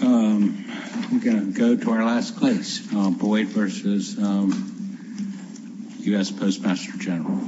We're going to go to our last case, Boyd v. U.S. Postmaster General.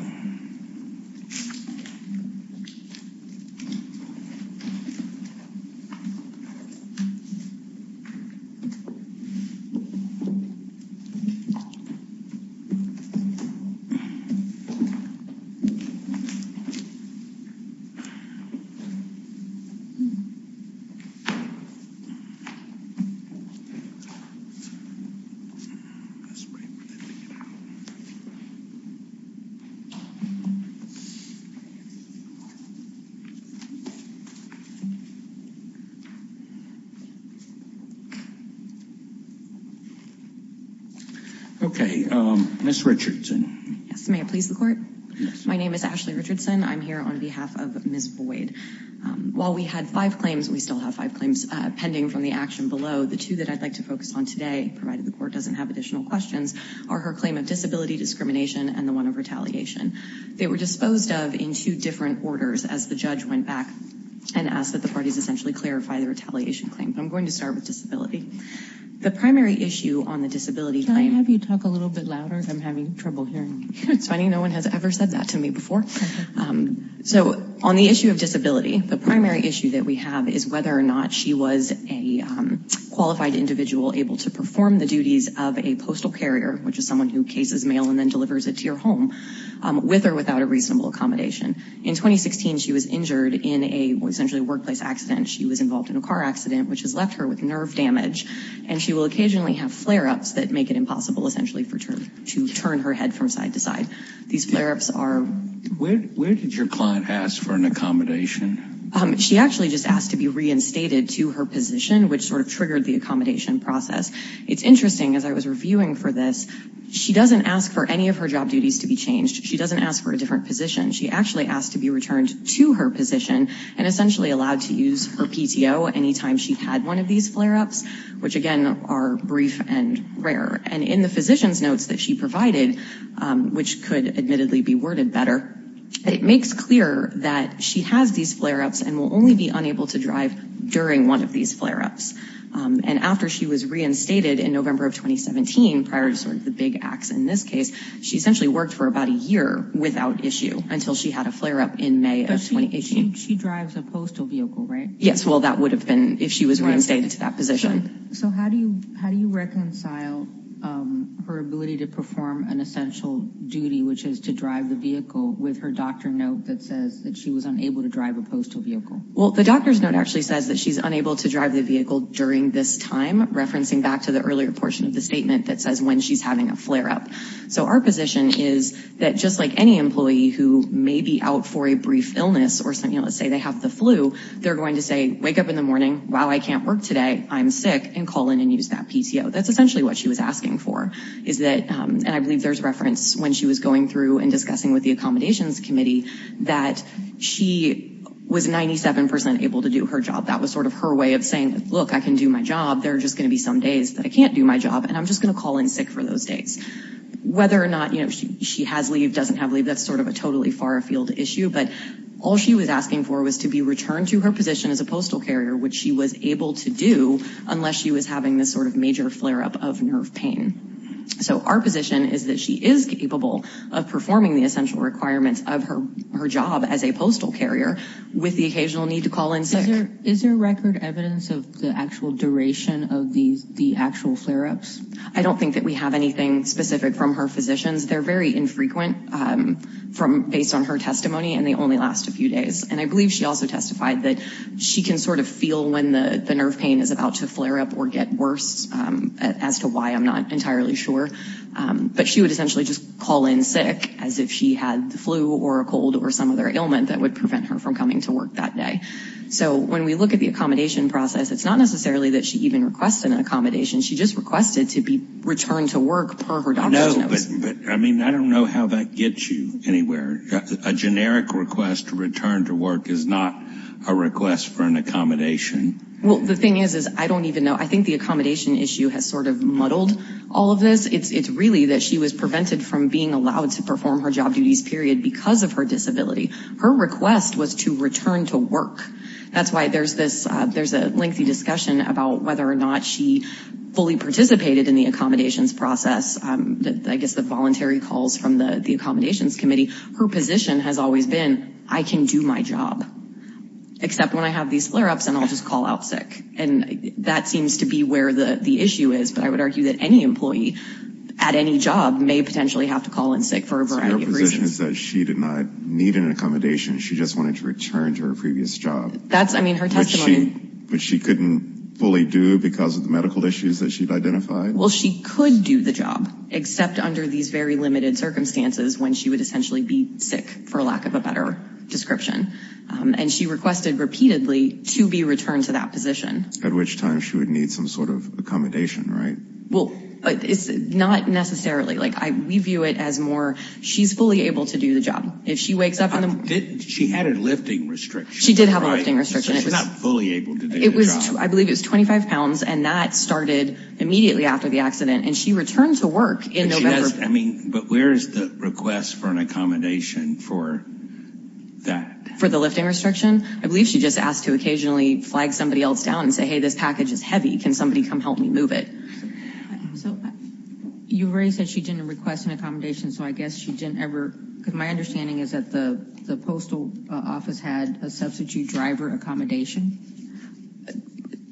Okay, Ms. Richardson. Yes, may it please the court? Yes. My name is Ashley Richardson. I'm here on behalf of Ms. Boyd. While we had five claims, we still have five claims pending from the action below. The two that I'd like to focus on today, provided the court doesn't have additional questions, are her claim of disability discrimination and the one of retaliation. They were disposed of in two different orders as the judge went back and asked that the parties essentially clarify the retaliation claim. But I'm going to start with disability. The primary issue on the disability claim— Can I have you talk a little bit louder? I'm having trouble hearing you. It's funny. No one has ever said that to me before. So on the issue of disability, the primary issue that we have is whether or not she was a qualified individual able to perform the duties of a postal carrier, which is someone who cases mail and then delivers it to your home, with or without a reasonable accommodation. In 2016, she was injured in essentially a workplace accident. She was involved in a car accident, which has left her with nerve damage, and she will occasionally have flare-ups that make it impossible essentially to turn her head from side to side. These flare-ups are— Where did your client ask for an accommodation? She actually just asked to be reinstated to her position, which sort of triggered the accommodation process. It's interesting. As I was reviewing for this, she doesn't ask for any of her job duties to be changed. She doesn't ask for a different position. She actually asked to be returned to her position and essentially allowed to use her PTO anytime she had one of these flare-ups, which, again, are brief and rare. And in the physician's notes that she provided, which could admittedly be worded better, it makes clear that she has these flare-ups and will only be unable to drive during one of these flare-ups. And after she was reinstated in November of 2017, prior to sort of the big acts in this case, she essentially worked for about a year without issue until she had a flare-up in May of 2018. But she drives a postal vehicle, right? Yes, well, that would have been if she was reinstated to that position. So how do you reconcile her ability to perform an essential duty, which is to drive the vehicle, with her doctor note that says that she was unable to drive a postal vehicle? Well, the doctor's note actually says that she's unable to drive the vehicle during this time, referencing back to the earlier portion of the statement that says when she's having a flare-up. So our position is that, just like any employee who may be out for a brief illness or, say, they have the flu, they're going to say, wake up in the morning, wow, I can't work today, I'm sick, and call in and use that PTO. That's essentially what she was asking for. And I believe there's reference when she was going through and discussing with the accommodations committee that she was 97% able to do her job. That was sort of her way of saying, look, I can do my job. There are just going to be some days that I can't do my job, and I'm just going to call in sick for those days. Whether or not she has leave, doesn't have leave, that's sort of a totally far-afield issue. But all she was asking for was to be returned to her position as a postal carrier, which she was able to do unless she was having this sort of major flare-up of nerve pain. So our position is that she is capable of performing the essential requirements of her job as a postal carrier with the occasional need to call in sick. Is there record evidence of the actual duration of the actual flare-ups? I don't think that we have anything specific from her physicians. They're very infrequent based on her testimony, and they only last a few days. And I believe she also testified that she can sort of feel when the nerve pain is about to flare up or get worse, as to why I'm not entirely sure. But she would essentially just call in sick as if she had the flu or a cold or some other ailment that would prevent her from coming to work that day. So when we look at the accommodation process, it's not necessarily that she even requested an accommodation. She just requested to be returned to work per her doctor's notice. But, I mean, I don't know how that gets you anywhere. A generic request to return to work is not a request for an accommodation. Well, the thing is, is I don't even know. I think the accommodation issue has sort of muddled all of this. It's really that she was prevented from being allowed to perform her job duties, period, because of her disability. Her request was to return to work. That's why there's a lengthy discussion about whether or not she fully participated in the accommodations process. I guess the voluntary calls from the accommodations committee, her position has always been, I can do my job, except when I have these flare-ups and I'll just call out sick. And that seems to be where the issue is. But I would argue that any employee at any job may potentially have to call in sick for a variety of reasons. So your position is that she did not need an accommodation. She just wanted to return to her previous job. That's, I mean, her testimony. Which she couldn't fully do because of the medical issues that she'd identified? Well, she could do the job, except under these very limited circumstances, when she would essentially be sick, for lack of a better description. And she requested repeatedly to be returned to that position. At which time she would need some sort of accommodation, right? Well, not necessarily. Like, we view it as more, she's fully able to do the job. If she wakes up in the morning. She had a lifting restriction, right? She did have a lifting restriction. So she's not fully able to do the job. It was, I believe it was 25 pounds. And that started immediately after the accident. And she returned to work in November. But she never, I mean, but where is the request for an accommodation for that? For the lifting restriction? I believe she just asked to occasionally flag somebody else down and say, hey, this package is heavy. Can somebody come help me move it? So you already said she didn't request an accommodation. So I guess she didn't ever, because my understanding is that the postal office had a substitute driver accommodation.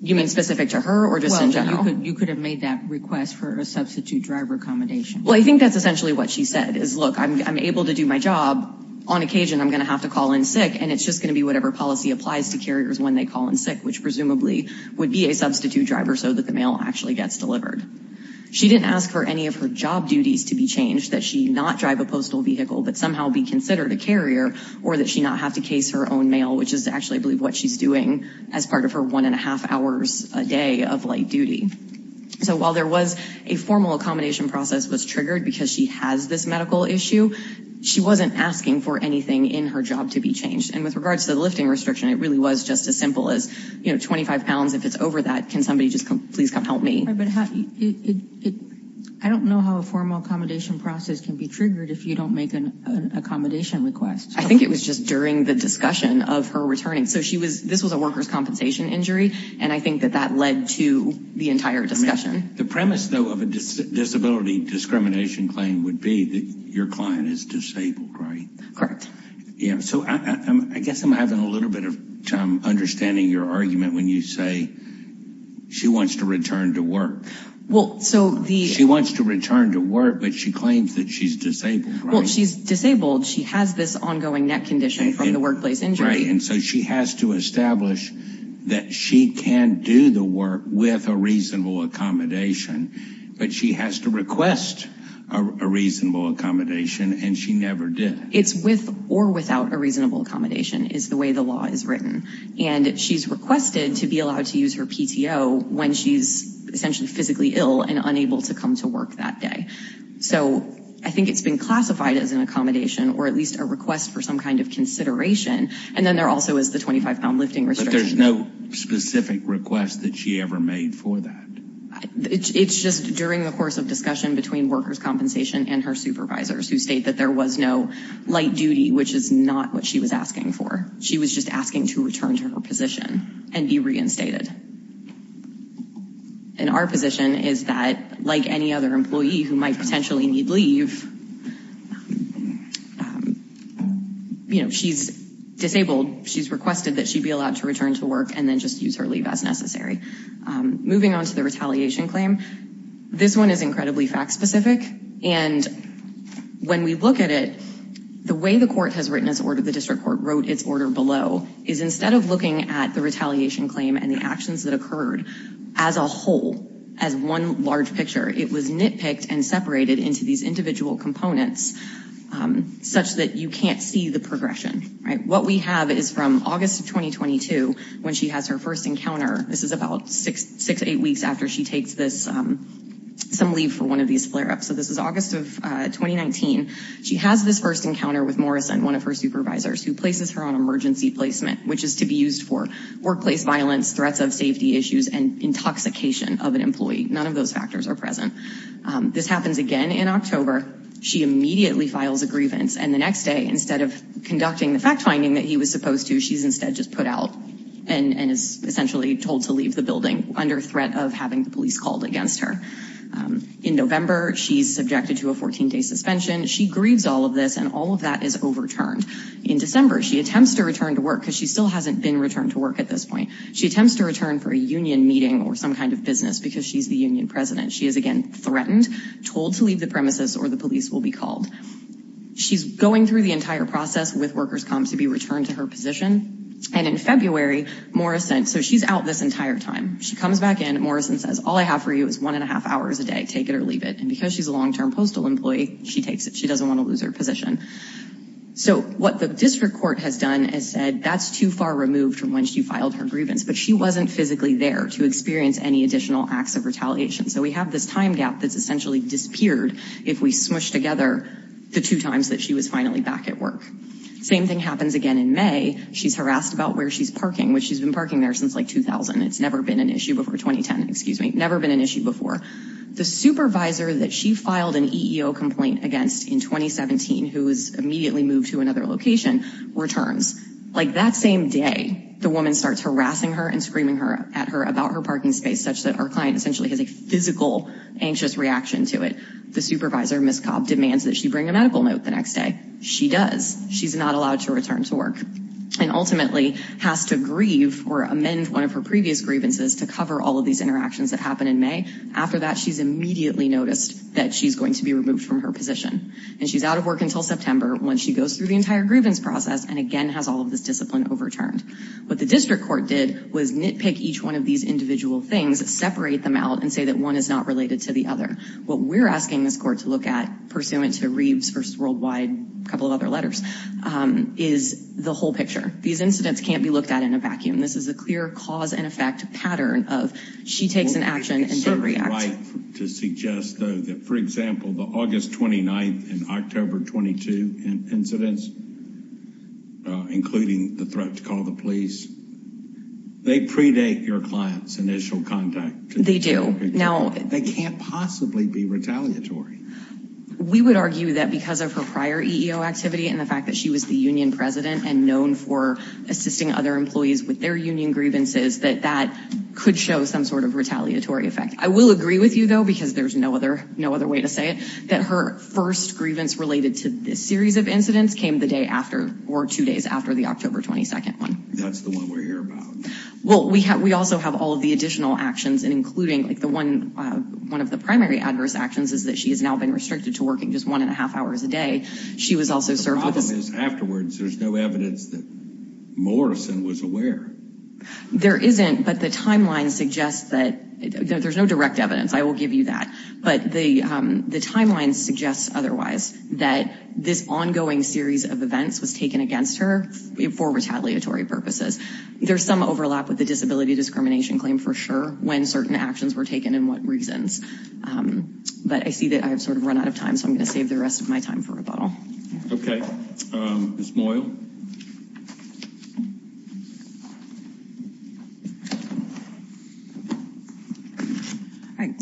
You mean specific to her or just in general? You could have made that request for a substitute driver accommodation. Well, I think that's essentially what she said is, look, I'm able to do my job. On occasion, I'm going to have to call in sick. And it's just going to be whatever policy applies to carriers when they call in sick, which presumably would be a substitute driver so that the mail actually gets delivered. She didn't ask for any of her job duties to be changed, that she not drive a postal vehicle, but somehow be considered a carrier or that she not have to case her own mail, which is actually, I believe, what she's doing as part of her one and a half hours a day of light duty. So while there was a formal accommodation process was triggered because she has this medical issue, she wasn't asking for anything in her job to be changed. And with regards to the lifting restriction, it really was just as simple as, you know, 25 pounds. If it's over that, can somebody just please come help me? I don't know how a formal accommodation process can be triggered if you don't make an accommodation request. I think it was just during the discussion of her returning. So this was a worker's compensation injury, and I think that that led to the entire discussion. The premise, though, of a disability discrimination claim would be that your client is disabled, right? Correct. So I guess I'm having a little bit of trouble understanding your argument when you say she wants to return to work. Well, so the. She wants to return to work, but she claims that she's disabled. Well, she's disabled. She has this ongoing neck condition from the workplace injury. Right. And so she has to establish that she can do the work with a reasonable accommodation, but she has to request a reasonable accommodation, and she never did. It's with or without a reasonable accommodation is the way the law is written, and she's requested to be allowed to use her PTO when she's essentially physically ill and unable to come to work that day. So I think it's been classified as an accommodation or at least a request for some kind of consideration, and then there also is the 25-pound lifting restriction. But there's no specific request that she ever made for that. It's just during the course of discussion between workers' compensation and her supervisors who state that there was no light duty, which is not what she was asking for. She was just asking to return to her position and be reinstated. And our position is that, like any other employee who might potentially need leave, you know, she's disabled. She's requested that she be allowed to return to work and then just use her leave as necessary. Moving on to the retaliation claim, this one is incredibly fact-specific. And when we look at it, the way the court has written its order, the district court wrote its order below, is instead of looking at the retaliation claim and the actions that occurred as a whole, as one large picture, it was nitpicked and separated into these individual components such that you can't see the progression. What we have is from August of 2022 when she has her first encounter. This is about six to eight weeks after she takes some leave for one of these flare-ups. So this is August of 2019. She has this first encounter with Morrison, one of her supervisors, who places her on emergency placement, which is to be used for workplace violence, threats of safety issues, and intoxication of an employee. None of those factors are present. This happens again in October. She immediately files a grievance, and the next day, instead of conducting the fact-finding that he was supposed to, she's instead just put out and is essentially told to leave the building under threat of having the police called against her. In November, she's subjected to a 14-day suspension. She grieves all of this, and all of that is overturned. In December, she attempts to return to work because she still hasn't been returned to work at this point. She attempts to return for a union meeting or some kind of business because she's the union president. She is, again, threatened, told to leave the premises, or the police will be called. She's going through the entire process with workers' comps to be returned to her position. And in February, Morrison—so she's out this entire time. She comes back in. Morrison says, all I have for you is one and a half hours a day. Take it or leave it. And because she's a long-term postal employee, she takes it. She doesn't want to lose her position. So what the district court has done is said that's too far removed from when she filed her grievance, but she wasn't physically there to experience any additional acts of retaliation. So we have this time gap that's essentially disappeared if we smoosh together the two times that she was finally back at work. Same thing happens again in May. She's harassed about where she's parking, which she's been parking there since like 2000. It's never been an issue before—2010, excuse me. Never been an issue before. The supervisor that she filed an EEO complaint against in 2017, who was immediately moved to another location, returns. Like, that same day, the woman starts harassing her and screaming at her about her parking space such that our client essentially has a physical, anxious reaction to it. The supervisor, Ms. Cobb, demands that she bring a medical note the next day. She does. She's not allowed to return to work and ultimately has to grieve or amend one of her previous grievances to cover all of these interactions that happened in May. After that, she's immediately noticed that she's going to be removed from her position. And she's out of work until September when she goes through the entire grievance process and again has all of this discipline overturned. What the district court did was nitpick each one of these individual things, separate them out, and say that one is not related to the other. What we're asking this court to look at, pursuant to Reeves v. Worldwide, a couple of other letters, is the whole picture. These incidents can't be looked at in a vacuum. This is a clear cause-and-effect pattern of she takes an action and then reacts. Is it right to suggest, though, that, for example, the August 29th and October 22 incidents, including the threat to call the police, they predate your client's initial contact? They do. They can't possibly be retaliatory. We would argue that because of her prior EEO activity and the fact that she was the union president and known for assisting other employees with their union grievances, that that could show some sort of retaliatory effect. I will agree with you, though, because there's no other way to say it, that her first grievance related to this series of incidents came the day after, or two days after, the October 22nd one. That's the one we're here about. Well, we also have all of the additional actions, including one of the primary adverse actions, is that she has now been restricted to working just one and a half hours a day. The problem is, afterwards, there's no evidence that Morrison was aware. There isn't, but the timeline suggests that there's no direct evidence. I will give you that. But the timeline suggests otherwise, that this ongoing series of events was taken against her for retaliatory purposes. There's some overlap with the disability discrimination claim, for sure, when certain actions were taken and what reasons. But I see that I've sort of run out of time, so I'm going to save the rest of my time for rebuttal. Okay. Ms. Moyle.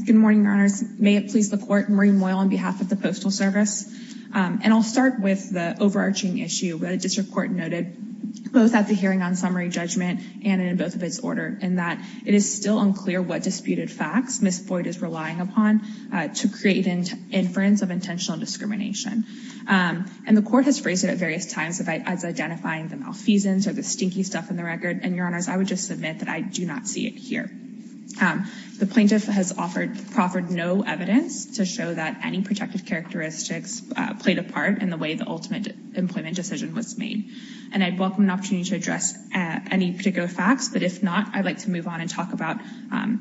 Good morning, Your Honors. May it please the Court, Marie Moyle on behalf of the Postal Service. And I'll start with the overarching issue that a district court noted, both at the hearing on summary judgment and in both of its order, in that it is still unclear what disputed facts Ms. Boyd is relying upon to create inference of intentional discrimination. And the court has phrased it at various times as identifying the malfeasance or the stinky stuff in the record. And, Your Honors, I would just submit that I do not see it here. The plaintiff has offered no evidence to show that any protected characteristics played a part in the way the ultimate employment decision was made. And I'd welcome an opportunity to address any particular facts. But if not, I'd like to move on and talk about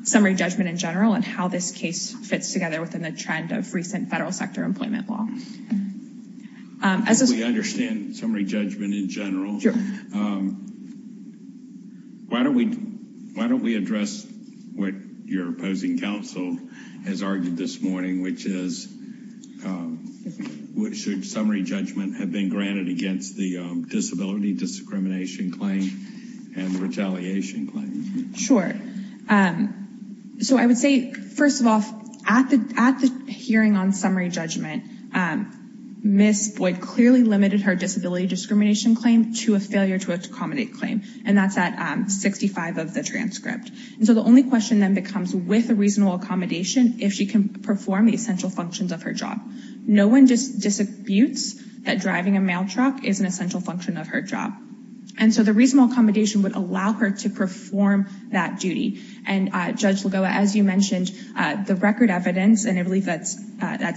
summary judgment in general and how this case fits together within the trend of recent federal sector employment law. We understand summary judgment in general. Why don't we address what your opposing counsel has argued this morning, which is, should summary judgment have been granted against the disability discrimination claim and retaliation claim? Sure. So I would say, first of all, at the hearing on summary judgment, Ms. Boyd clearly limited her disability discrimination claim to a failure to accommodate claim. And that's at 65 of the transcript. And so the only question then becomes, with a reasonable accommodation, if she can perform the essential functions of her job. No one just disabutes that driving a mail truck is an essential function of her job. And so the reasonable accommodation would allow her to perform that duty. And, Judge Lagoa, as you mentioned, the record evidence, and I believe that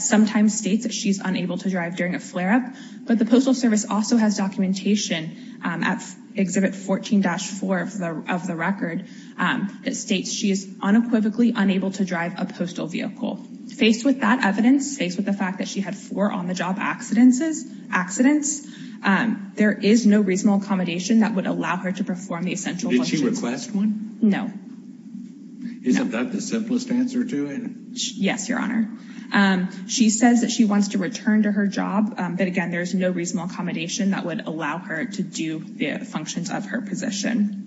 sometimes states that she's unable to drive during a flare-up, but the Postal Service also has documentation at Exhibit 14-4 of the record that states she is unequivocally unable to drive a postal vehicle. Faced with that evidence, faced with the fact that she had four on-the-job accidents, there is no reasonable accommodation that would allow her to perform the essential functions. Did she request one? No. Isn't that the simplest answer to it? Yes, Your Honor. She says that she wants to return to her job, but, again, there is no reasonable accommodation that would allow her to do the functions of her position.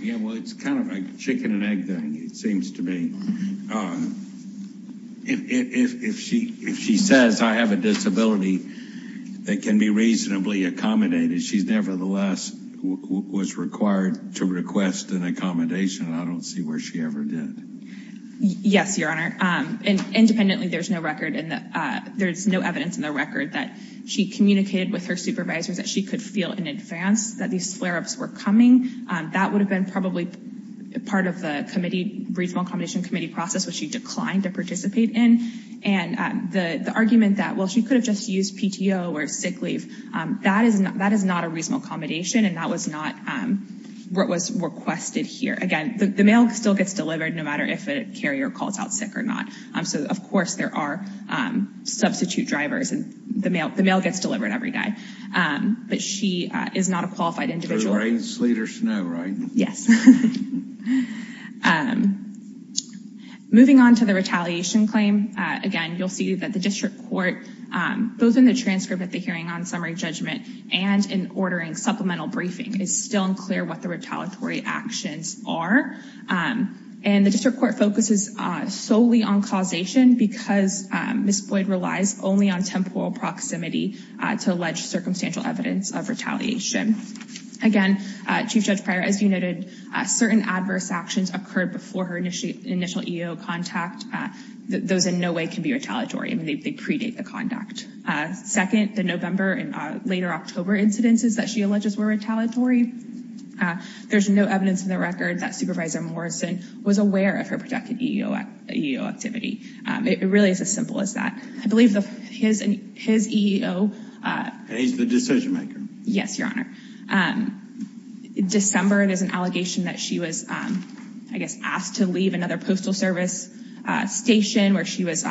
Yeah, well, it's kind of a chicken-and-egg thing, it seems to me. If she says, I have a disability that can be reasonably accommodated, she nevertheless was required to request an accommodation, and I don't see where she ever did. Yes, Your Honor. Independently, there's no evidence in the record that she communicated with her supervisors that she could feel in advance that these flare-ups were coming. That would have been probably part of the reasonable accommodation committee process, which she declined to participate in. And the argument that, well, she could have just used PTO or sick leave, that is not a reasonable accommodation, and that was not what was requested here. Again, the mail still gets delivered, no matter if a carrier calls out sick or not. So, of course, there are substitute drivers, and the mail gets delivered every day. But she is not a qualified individual. So the rain, sleet, or snow, right? Yes. Moving on to the retaliation claim. Again, you'll see that the district court, both in the transcript at the hearing on summary judgment and in ordering supplemental briefing, is still unclear what the retaliatory actions are. And the district court focuses solely on causation because Ms. Boyd relies only on temporal proximity to alleged circumstantial evidence of retaliation. Again, Chief Judge Pryor, as you noted, certain adverse actions occurred before her initial EEO contact. Those in no way can be retaliatory. I mean, they predate the conduct. Second, the November and later October incidences that she alleges were retaliatory, there's no evidence in the record that Supervisor Morrison was aware of her projected EEO activity. It really is as simple as that. I believe his EEO – And he's the decision-maker. Yes, Your Honor. December, there's an allegation that she was, I guess, asked to leave another postal service station where she was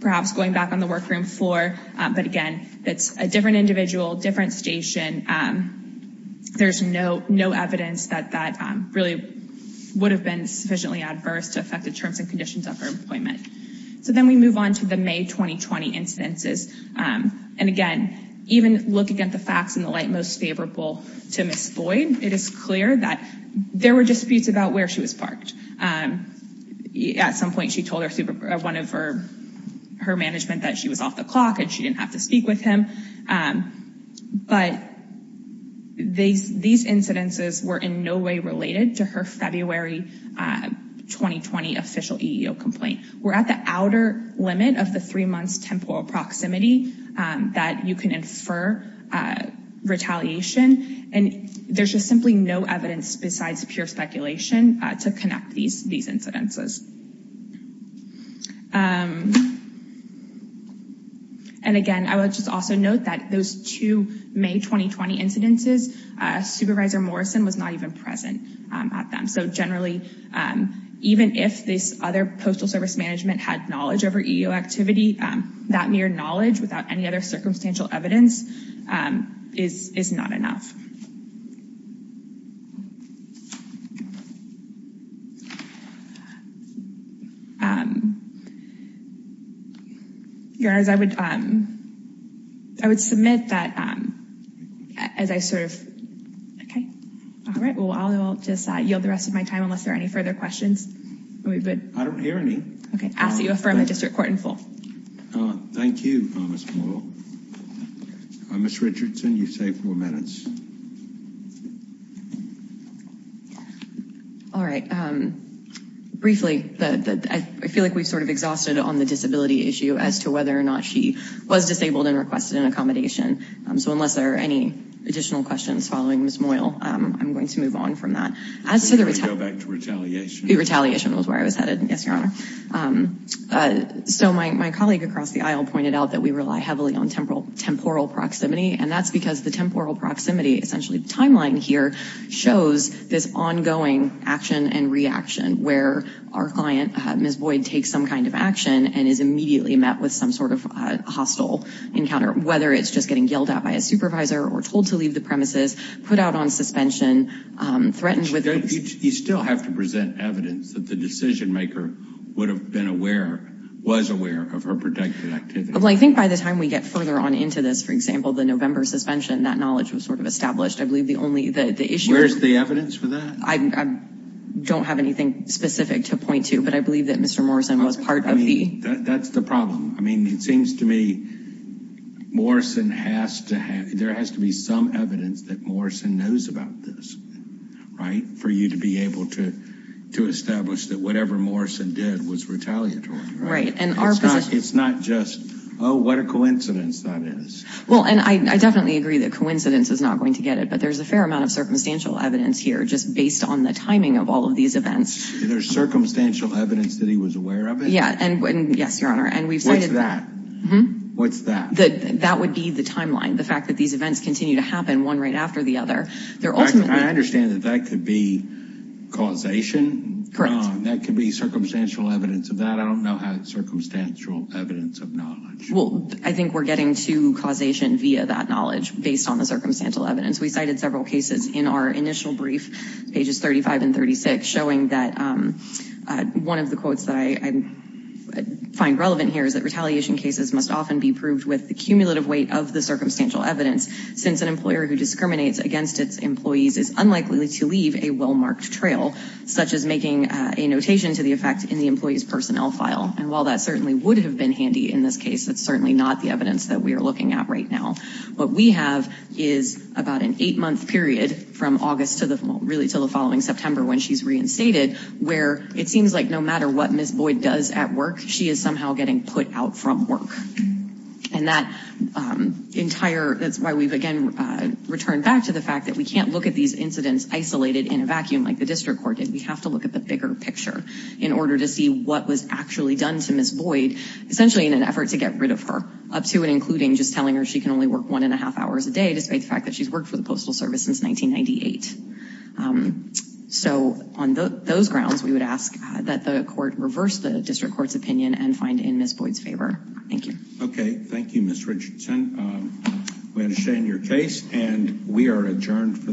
perhaps going back on the workroom floor. But again, that's a different individual, different station. There's no evidence that that really would have been sufficiently adverse to affected terms and conditions of her employment. So then we move on to the May 2020 incidences. And again, even looking at the facts in the light most favorable to Ms. Boyd, it is clear that there were disputes about where she was parked. At some point, she told one of her management that she was off the clock and she didn't have to speak with him. But these incidences were in no way related to her February 2020 official EEO complaint. We're at the outer limit of the three months temporal proximity that you can infer retaliation. And there's just simply no evidence besides pure speculation to connect these these incidences. And again, I would just also note that those two May 2020 incidences, Supervisor Morrison was not even present at them. So generally, even if this other postal service management had knowledge over EEO activity, that mere knowledge without any other circumstantial evidence is not enough. Your Honor, I would I would submit that as I sort of. OK. All right. Well, I'll just yield the rest of my time unless there are any further questions. I don't hear any. OK. I ask that you affirm the district court in full. Thank you, Ms. Boyle. Ms. Richardson, you say four minutes. All right. Briefly, I feel like we've sort of exhausted on the disability issue as to whether or not she was disabled and requested an accommodation. So unless there are any additional questions following Ms. Boyle, I'm going to move on from that. As to the retaliation, retaliation was where I was headed. Yes, Your Honor. So my colleague across the aisle pointed out that we rely heavily on temporal temporal proximity. And that's because the temporal proximity essentially timeline here shows this ongoing action and reaction where our client, Ms. Boyd, takes some kind of action and is immediately met with some sort of hostile encounter, whether it's just getting yelled at by a supervisor or told to leave the premises, put out on suspension, threatened with. You still have to present evidence that the decision maker would have been aware, was aware of her protected activity. Well, I think by the time we get further on into this, for example, the November suspension, that knowledge was sort of established. I believe the only the issue is the evidence for that. I don't have anything specific to point to. But I believe that Mr. Morrison was part of that. That's the problem. I mean, it seems to me Morrison has to have there has to be some evidence that Morrison knows about this. Right. For you to be able to to establish that whatever Morrison did was retaliatory. Right. And it's not just, oh, what a coincidence that is. Well, and I definitely agree that coincidence is not going to get it. But there's a fair amount of circumstantial evidence here just based on the timing of all of these events. There's circumstantial evidence that he was aware of it. Yeah. And yes, your honor. And we've seen that. What's that? That would be the timeline. The fact that these events continue to happen one right after the other. I understand that that could be causation. Correct. That could be circumstantial evidence of that. I don't know how circumstantial evidence of knowledge. Well, I think we're getting to causation via that knowledge based on the circumstantial evidence. We cited several cases in our initial brief, pages 35 and 36, showing that one of the quotes that I find relevant here is that retaliation cases must often be proved with the cumulative weight of the circumstantial evidence. Since an employer who discriminates against its employees is unlikely to leave a well-marked trail, such as making a notation to the effect in the employee's personnel file. And while that certainly would have been handy in this case, it's certainly not the evidence that we are looking at right now. What we have is about an eight month period from August to the really to the following September when she's reinstated, where it seems like no matter what Ms. Boyd does at work, she is somehow getting put out from work. And that entire, that's why we've again returned back to the fact that we can't look at these incidents isolated in a vacuum like the district court did. We have to look at the bigger picture in order to see what was actually done to Ms. Boyd, essentially in an effort to get rid of her, up to and including just telling her she can only work one and a half hours a day, despite the fact that she's worked for the Postal Service since 1998. So on those grounds, we would ask that the court reverse the district court's opinion and find in Ms. Boyd's favor. Thank you. Okay. Thank you, Ms. Richardson. We understand your case and we are adjourned for the week.